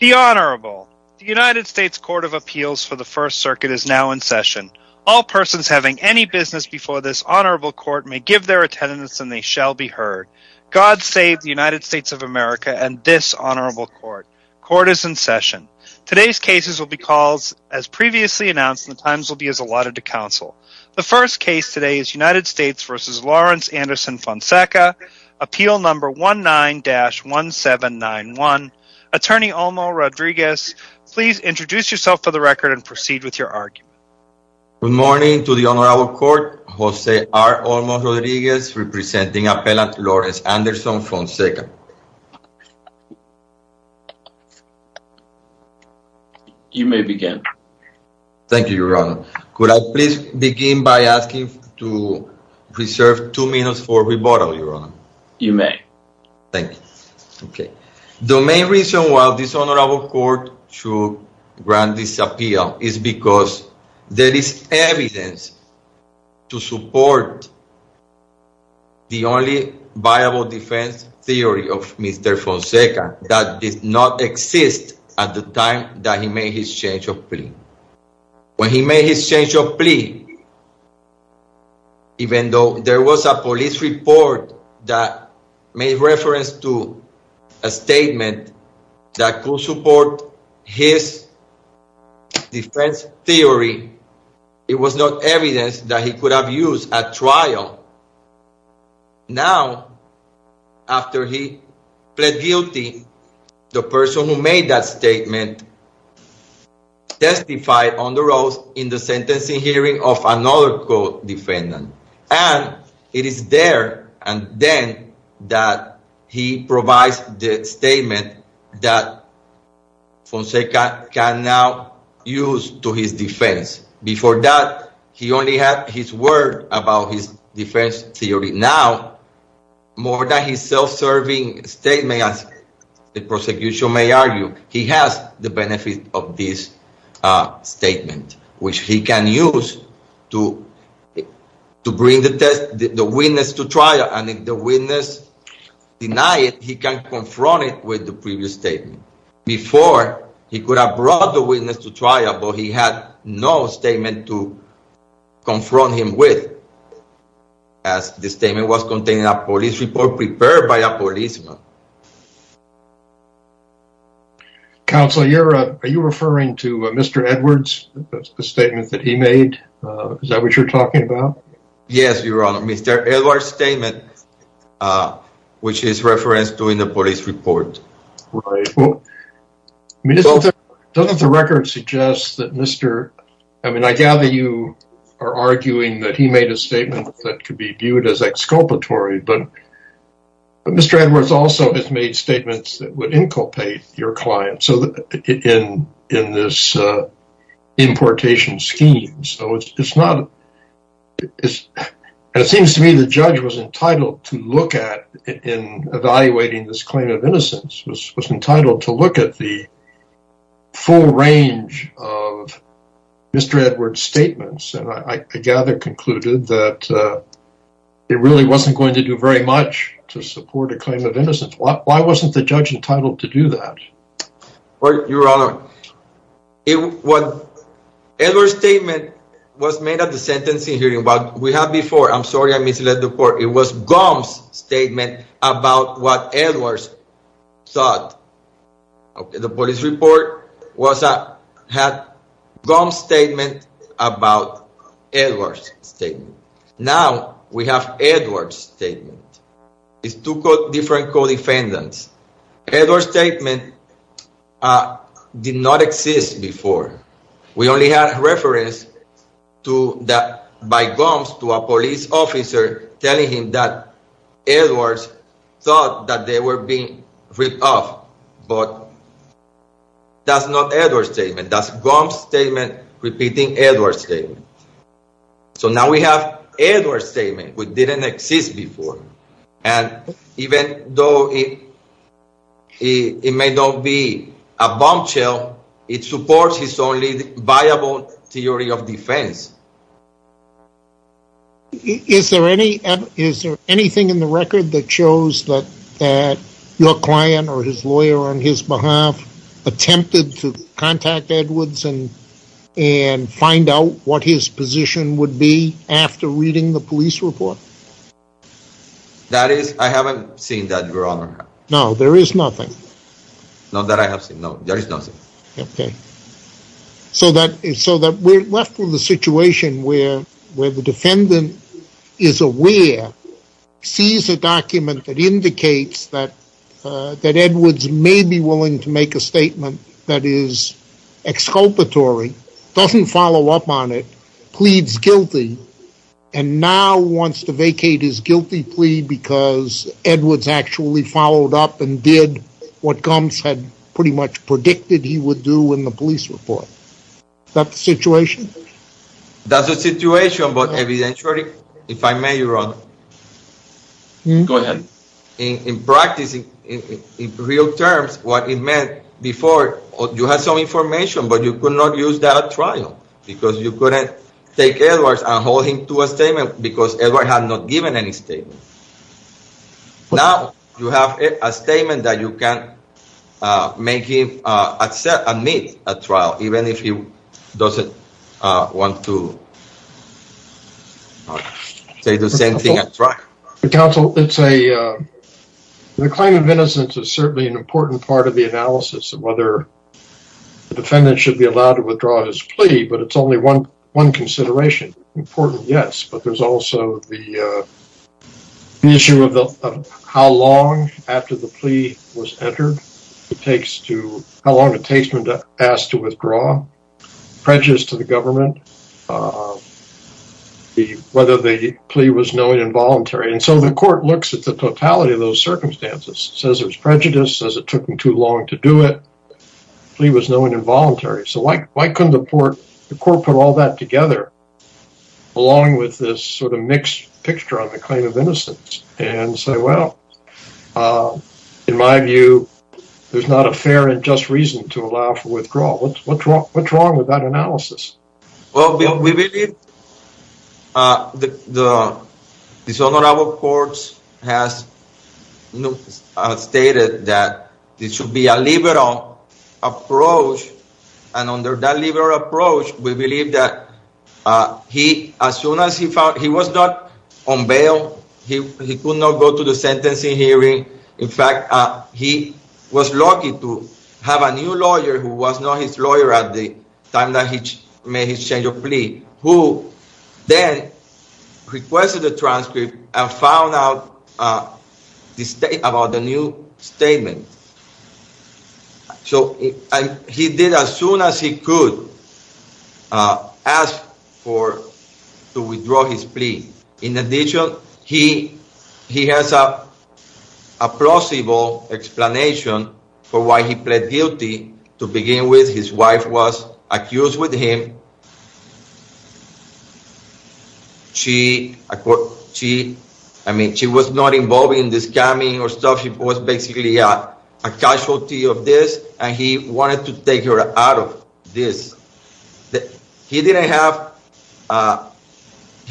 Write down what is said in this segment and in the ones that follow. The Honorable. The United States Court of Appeals for the First Circuit is now in session. All persons having any business before this Honorable Court may give their attendance and they shall be heard. God save the United States of America and this Honorable Court. Court is in session. Today's cases will be called as previously announced and the times will be as allotted to counsel. The first case today is United States v. Lawrence Anderson Fonseca, appeal number 19-1791. Attorney Olmo Rodriguez, please introduce yourself for the record and proceed with your argument. Good morning to the Honorable Court. Jose R. Olmo Rodriguez representing Appellant Lawrence Anderson Fonseca. You may begin. Thank you, Your Honor. Could I please begin by asking to reserve two minutes for rebuttal, Your Honor? You may. Thank you. Okay. The main reason why this Honorable Court should grant this appeal is because there is evidence to support the only viable defense theory of Mr. Fonseca that did not exist at the time that he made his change of plea. When he made his change of plea, even though there was a police report that made reference to a statement that could support his defense theory, it was not evidence that he could have used at trial. Now, after he pled guilty, the person who made that statement testified on the road in the sentencing hearing of another co-defendant. And it is there and then that he provides the statement that Fonseca can now use to his defense. Before that, he only had his word about his defense theory. Now, more than his self-serving statement, as the prosecution may argue, he has the benefit of this statement, which he can use to bring the witness to trial. And if the witness denied it, he can confront it with the previous statement. Before, he could have brought the witness to trial, but he had no statement to confront him with, as the statement was contained in a police report prepared by a policeman. Counsel, are you referring to Mr. Edwards, the statement that he made? Is that what you're talking about? Yes, Your Honor. Mr. Edwards' statement, which is referenced during the police report. Right. Doesn't the record suggest that Mr. – I mean, I gather you are arguing that he made a statement that could be viewed as exculpatory, but Mr. Edwards also has made statements that would inculpate your client in this importation scheme. And it seems to me the judge was entitled to look at, in evaluating this claim of innocence, was entitled to look at the full range of Mr. Edwards' statements, and I gather concluded that it really wasn't going to do very much to support a claim of innocence. Why wasn't the judge entitled to do that? Well, Your Honor, Edwards' statement was made at the sentencing hearing. What we had before – I'm sorry I misled the court – it was Gomes' statement about what Edwards thought. The police report had Gomes' statement about Edwards' statement. It's two different co-defendants. Edwards' statement did not exist before. We only had reference to that by Gomes to a police officer telling him that Edwards thought that they were being ripped off. But that's not Edwards' statement. That's Gomes' statement repeating Edwards' statement. So now we have Edwards' statement, which didn't exist before. And even though it may not be a bombshell, it supports his only viable theory of defense. Is there anything in the record that shows that your client or his lawyer on his behalf attempted to contact Edwards and find out what his position would be after reading the police report? I haven't seen that, Your Honor. No, there is nothing. Not that I have seen. No, there is nothing. So we're left with a situation where the defendant is aware, sees a document that indicates that Edwards may be willing to make a statement that is exculpatory, doesn't follow up on it, pleads guilty, and now wants to vacate his guilty plea because Edwards actually followed up and did what Gomes had pretty much predicted he would do in the police report. Is that the situation? That's the situation, but evidentially, if I may, Your Honor. Go ahead. In practice, in real terms, what it meant before, you had some information, but you could not use that at trial because you couldn't take Edwards and hold him to a statement because Edwards had not given any statement. Now you have a statement that you can make him admit at trial, even if he doesn't want to say the same thing at trial. Counsel, the claim of innocence is certainly an important part of the analysis of whether the defendant should be allowed to withdraw his plea, but it's only one consideration. It's important, yes, but there's also the issue of how long after the plea was entered, how long it takes for him to ask to withdraw, prejudice to the government, whether the plea was known involuntary. And so the court looks at the totality of those circumstances, says there's prejudice, says it took him too long to do it, the plea was known involuntary. So why couldn't the court put all that together along with this sort of mixed picture on the claim of innocence and say, well, in my view, there's not a fair and just reason to allow for withdrawal. What's wrong with that analysis? Well, we believe the dishonorable courts has stated that this should be a liberal approach. And under that liberal approach, we believe that he as soon as he found he was not on bail, he could not go to the sentencing hearing. In fact, he was lucky to have a new lawyer who was not his lawyer at the time that he made his change of plea, who then requested a transcript and found out about the new statement. So he did as soon as he could ask to withdraw his plea. In addition, he has a plausible explanation for why he pled guilty. To begin with, his wife was accused with him. I mean, she was not involved in the scamming or stuff. It was basically a casualty of this, and he wanted to take her out of this. He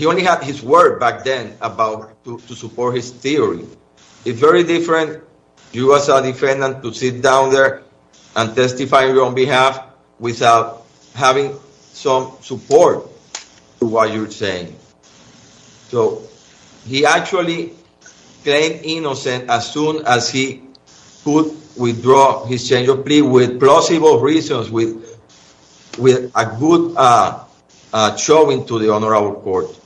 only had his word back then to support his theory. It's very different for you as a defendant to sit down there and testify on your behalf without having some support for what you're saying. So he actually claimed innocent as soon as he could withdraw his change of plea with plausible reasons, with a good showing to the honorable court.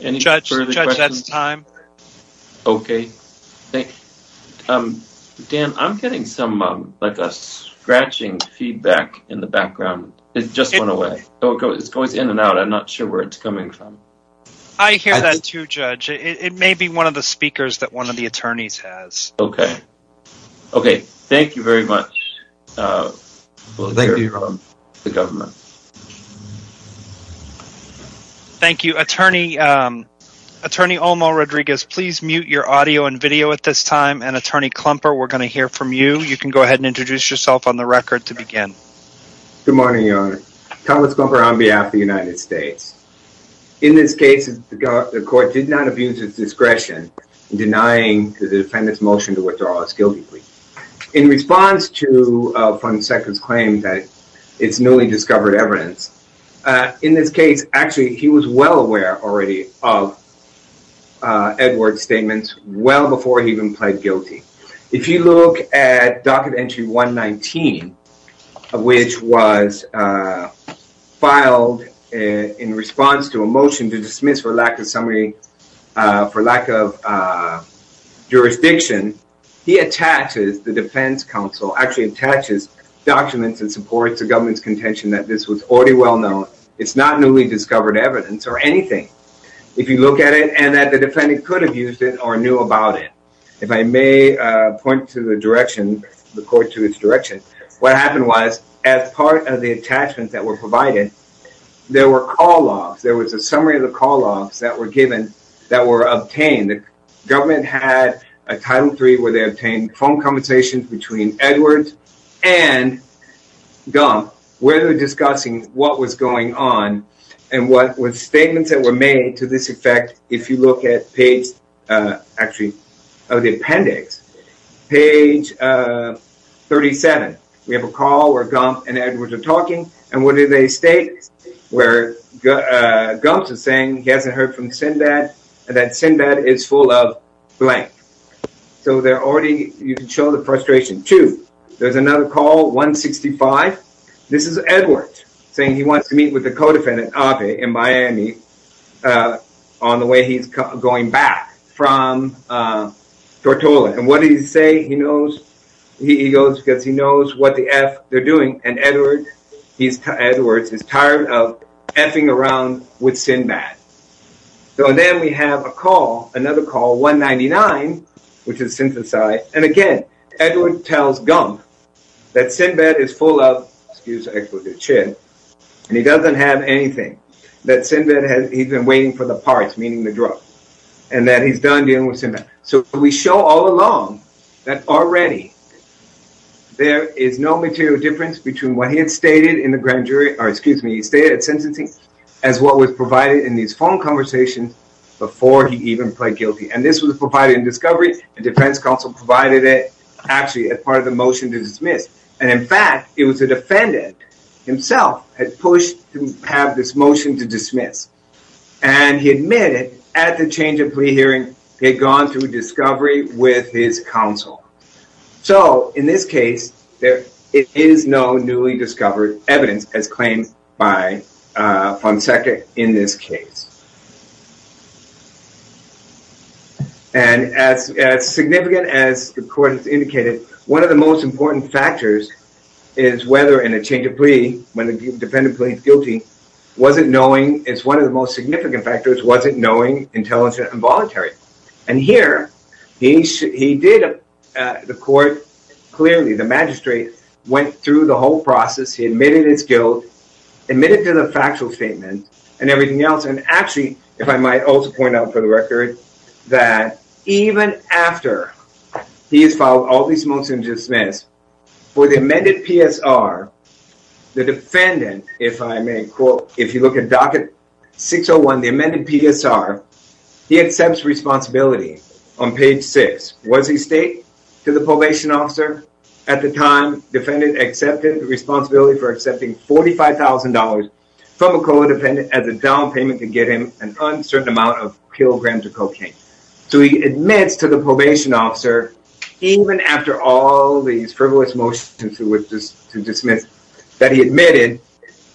Any further questions? Judge, that's time. OK. Dan, I'm getting some scratching feedback in the background. It just went away. It's going in and out. I'm not sure where it's coming from. I hear that too, Judge. It may be one of the speakers that one of the attorneys has. OK. OK. Thank you very much. Thank you. The government. Thank you. Attorney, Attorney Olmo Rodriguez, please mute your audio and video at this time. And Attorney Klumper, we're going to hear from you. You can go ahead and introduce yourself on the record to begin. Good morning, Your Honor. Thomas Klumper on behalf of the United States. In this case, the court did not abuse its discretion in denying the defendant's motion to withdraw his guilty plea. In response to Farnsworth's claim that it's newly discovered evidence, in this case, actually, he was well aware already of Edward's statements well before he even pled guilty. If you look at Docket Entry 119, which was filed in response to a motion to dismiss for lack of summary, for lack of jurisdiction, he attaches, the defense counsel actually attaches, documents and supports the government's contention that this was already well known. It's not newly discovered evidence or anything. If you look at it, and that the defendant could have used it or knew about it. If I may point to the direction, the court to its direction, what happened was, as part of the attachments that were provided, there were call-offs. There was a summary of the call-offs that were given, that were obtained. The government had a Title III where they obtained phone conversations between Edward and Gump, where they were discussing what was going on and what statements that were made to this effect, if you look at page, actually, of the appendix, page 37. We have a call where Gump and Edward are talking, and what did they state? Where Gump is saying he hasn't heard from Sinbad, and that Sinbad is full of blank. So, they're already, you can show the frustration. Two, there's another call, 165. This is Edward saying he wants to meet with the co-defendant in Miami on the way he's going back from Tortola. And what did he say? He knows, he goes because he knows what the F they're doing, and Edward, he's, Edward is tired of F-ing around with Sinbad. So, then we have a call, another call, 199, which is synthesized. And again, Edward tells Gump that Sinbad is full of, excuse the explicit chin, and he doesn't have anything, that Sinbad has, he's been waiting for the parts, meaning the drug, and that he's done dealing with Sinbad. So, we show all along that already there is no material difference between what he had stated in the grand jury, or excuse me, he stated at sentencing, as what was provided in these phone conversations before he even pled guilty. And this was provided in discovery, and defense counsel provided it, actually, as part of the motion to dismiss. And in fact, it was the defendant himself had pushed to have this motion to dismiss. And he admitted at the change of plea hearing, he had gone through discovery with his counsel. So, in this case, there is no newly discovered evidence as claimed by Fonseca in this case. And as significant as the court has indicated, one of the most important factors is whether in a change of plea, when the defendant pleads guilty, was it knowing, it's one of the most significant factors, was it knowing until it's involuntary. And here, he did, the court, clearly, the magistrate, went through the whole process, he admitted his guilt, admitted to the factual statement, and everything else, and actually, if I might also point out for the record, that even after he has filed all these motions to dismiss, for the amended PSR, the defendant, if I may quote, if you look at docket 601, the amended PSR, he accepts responsibility on page six. Was he state to the probation officer at the time defendant accepted the responsibility for accepting $45,000 from a COA defendant as a down payment to get him an uncertain amount of kilograms of cocaine. So, he admits to the probation officer, even after all these frivolous motions to dismiss, that he admitted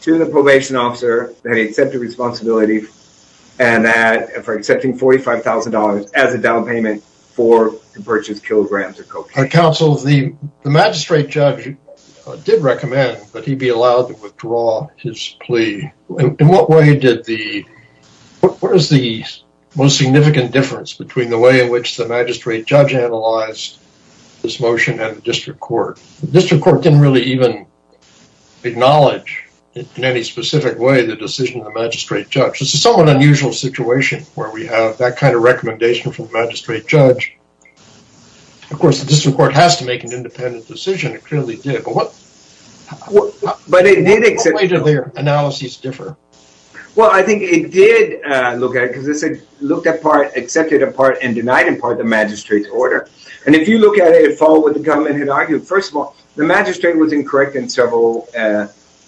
to the probation officer that he accepted responsibility for accepting $45,000 as a down payment for the purchase of kilograms of cocaine. Our counsel, the magistrate judge did recommend that he be allowed to withdraw his plea. In what way did the, what is the most significant difference between the way in which the magistrate judge analyzed this motion and the district court? The district court didn't really even acknowledge in any specific way the decision of the magistrate judge. It's a somewhat unusual situation where we have that kind of recommendation from the magistrate judge. Of course, the district court has to make an independent decision. It clearly did. But what, what, but it did accept. How did their analyses differ? Well, I think it did look at it because it looked at part, accepted a part, and denied in part the magistrate's order. And if you look at it, it followed what the government had argued. First of all, the magistrate was incorrect in several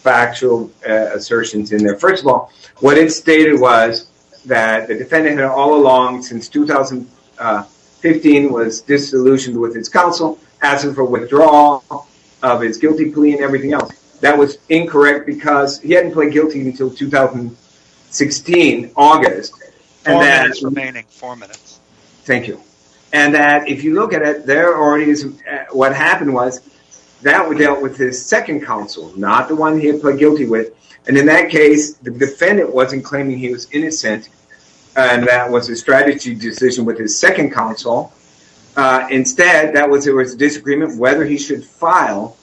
factual assertions in there. First of all, what it stated was that the defendant had all along, since 2015, was disillusioned with his counsel, asking for withdrawal of his guilty plea and everything else. That was incorrect because he hadn't pled guilty until 2016, August. August, remaining four minutes. Thank you. And that if you look at it, there already is, what happened was that we dealt with his second counsel, not the one he had pled guilty with. And in that case, the defendant wasn't claiming he was innocent. And that was a strategy decision with his second counsel. Instead, that was, there was a disagreement whether he should file,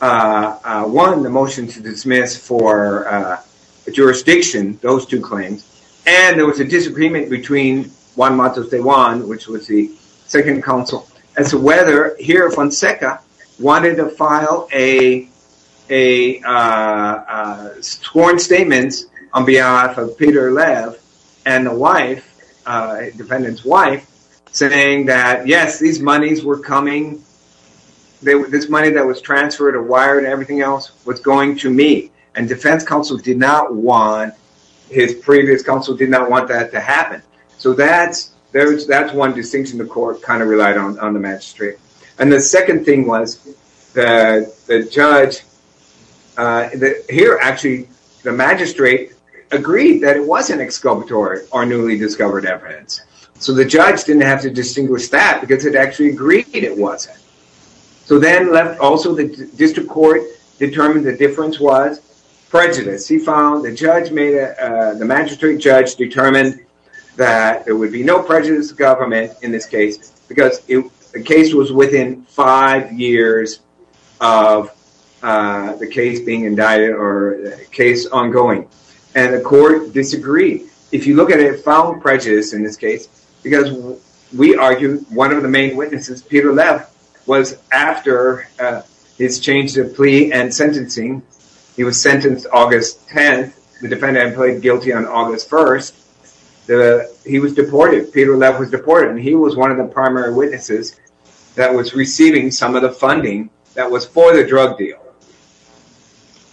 one, the motion to dismiss for jurisdiction, those two claims. And there was a disagreement between Juan Matos de Juan, which was the second counsel, as to whether he or Fonseca wanted to file sworn statements on behalf of Peter Lev and the wife, defendant's wife, saying that, yes, these monies were coming, this money that was transferred or wired and everything else was going to me. And defense counsel did not want, his previous counsel did not want that to happen. So that's one distinction the court kind of relied on the magistrate. And the second thing was that the judge, here, actually, the magistrate agreed that it wasn't exculpatory or newly discovered evidence. So the judge didn't have to distinguish that because it actually agreed it wasn't. So then also the district court determined the difference was prejudice. He found the judge made, the magistrate judge determined that there would be no prejudice of government in this case because the case was within five years of the case being indicted or case ongoing. And the court disagreed. If you look at it, it found prejudice in this case because we argue one of the main witnesses, Peter Lev, was after his change of plea and sentencing. He was sentenced August 10th. The defendant pleaded guilty on August 1st. He was deported. Peter Lev was deported. And he was one of the primary witnesses that was receiving some of the funding that was for the drug deal.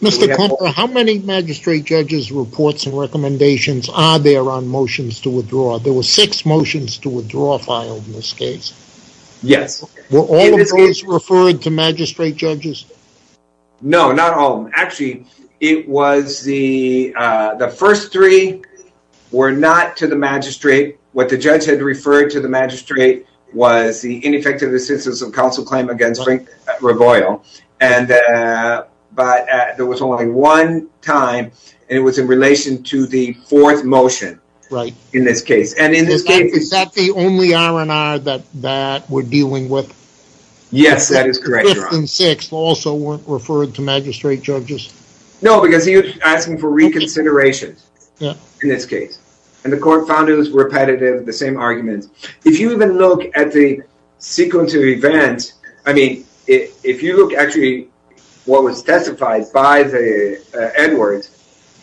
Mr. Compa, how many magistrate judges' reports and recommendations are there on motions to withdraw? There were six motions to withdraw filed in this case. Yes. Were all of those referred to magistrate judges? No, not all of them. Actually, it was the first three were not to the magistrate. What the judge had referred to the magistrate was the ineffective assistance of counsel claim against Frank Reboil. But there was only one time, and it was in relation to the fourth motion in this case. Is that the only R&R that we're dealing with? Yes, that is correct, Your Honor. The fifth and sixth also weren't referred to magistrate judges? No, because he was asking for reconsideration in this case. And the court found it was repetitive, the same arguments. If you even look at the sequence of events, I mean, if you look actually what was testified by the Edwards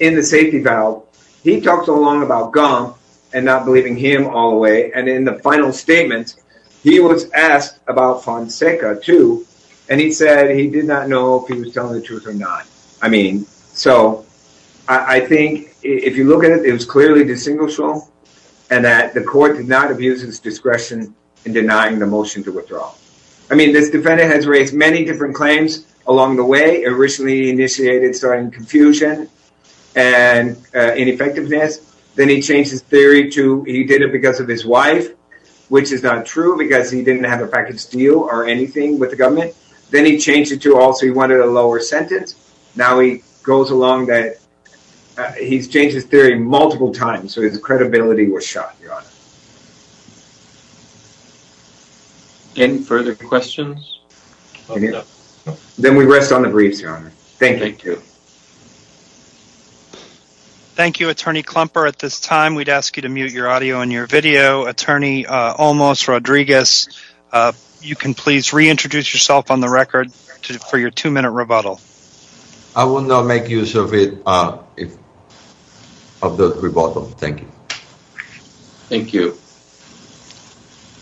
in the safety valve, he talked so long about gum and not believing him all the way. And in the final statement, he was asked about Fonseca, too. And he said he did not know if he was telling the truth or not. I mean, so I think if you look at it, it was clearly distinguishable and that the court did not abuse his discretion in denying the motion to withdraw. I mean, this defendant has raised many different claims along the way. Originally initiated starting confusion and ineffectiveness. Then he changed his theory to he did it because of his wife, which is not true because he didn't have a package deal or anything with the government. Then he changed it to also he wanted a lower sentence. Now he goes along that he's changed his theory multiple times. So his credibility was shot. Any further questions? Then we rest on the briefs. Thank you. Thank you, Attorney Klumper. At this time, we'd ask you to mute your audio and your video. Attorney Olmos Rodriguez, you can please reintroduce yourself on the record for your two minute rebuttal. I will not make use of it if of the rebuttal. Thank you. Thank you.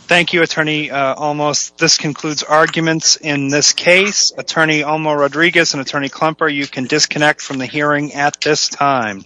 Thank you, Attorney Olmos. This concludes arguments in this case. Attorney Olmos Rodriguez and Attorney Klumper, you can disconnect from the hearing at this time.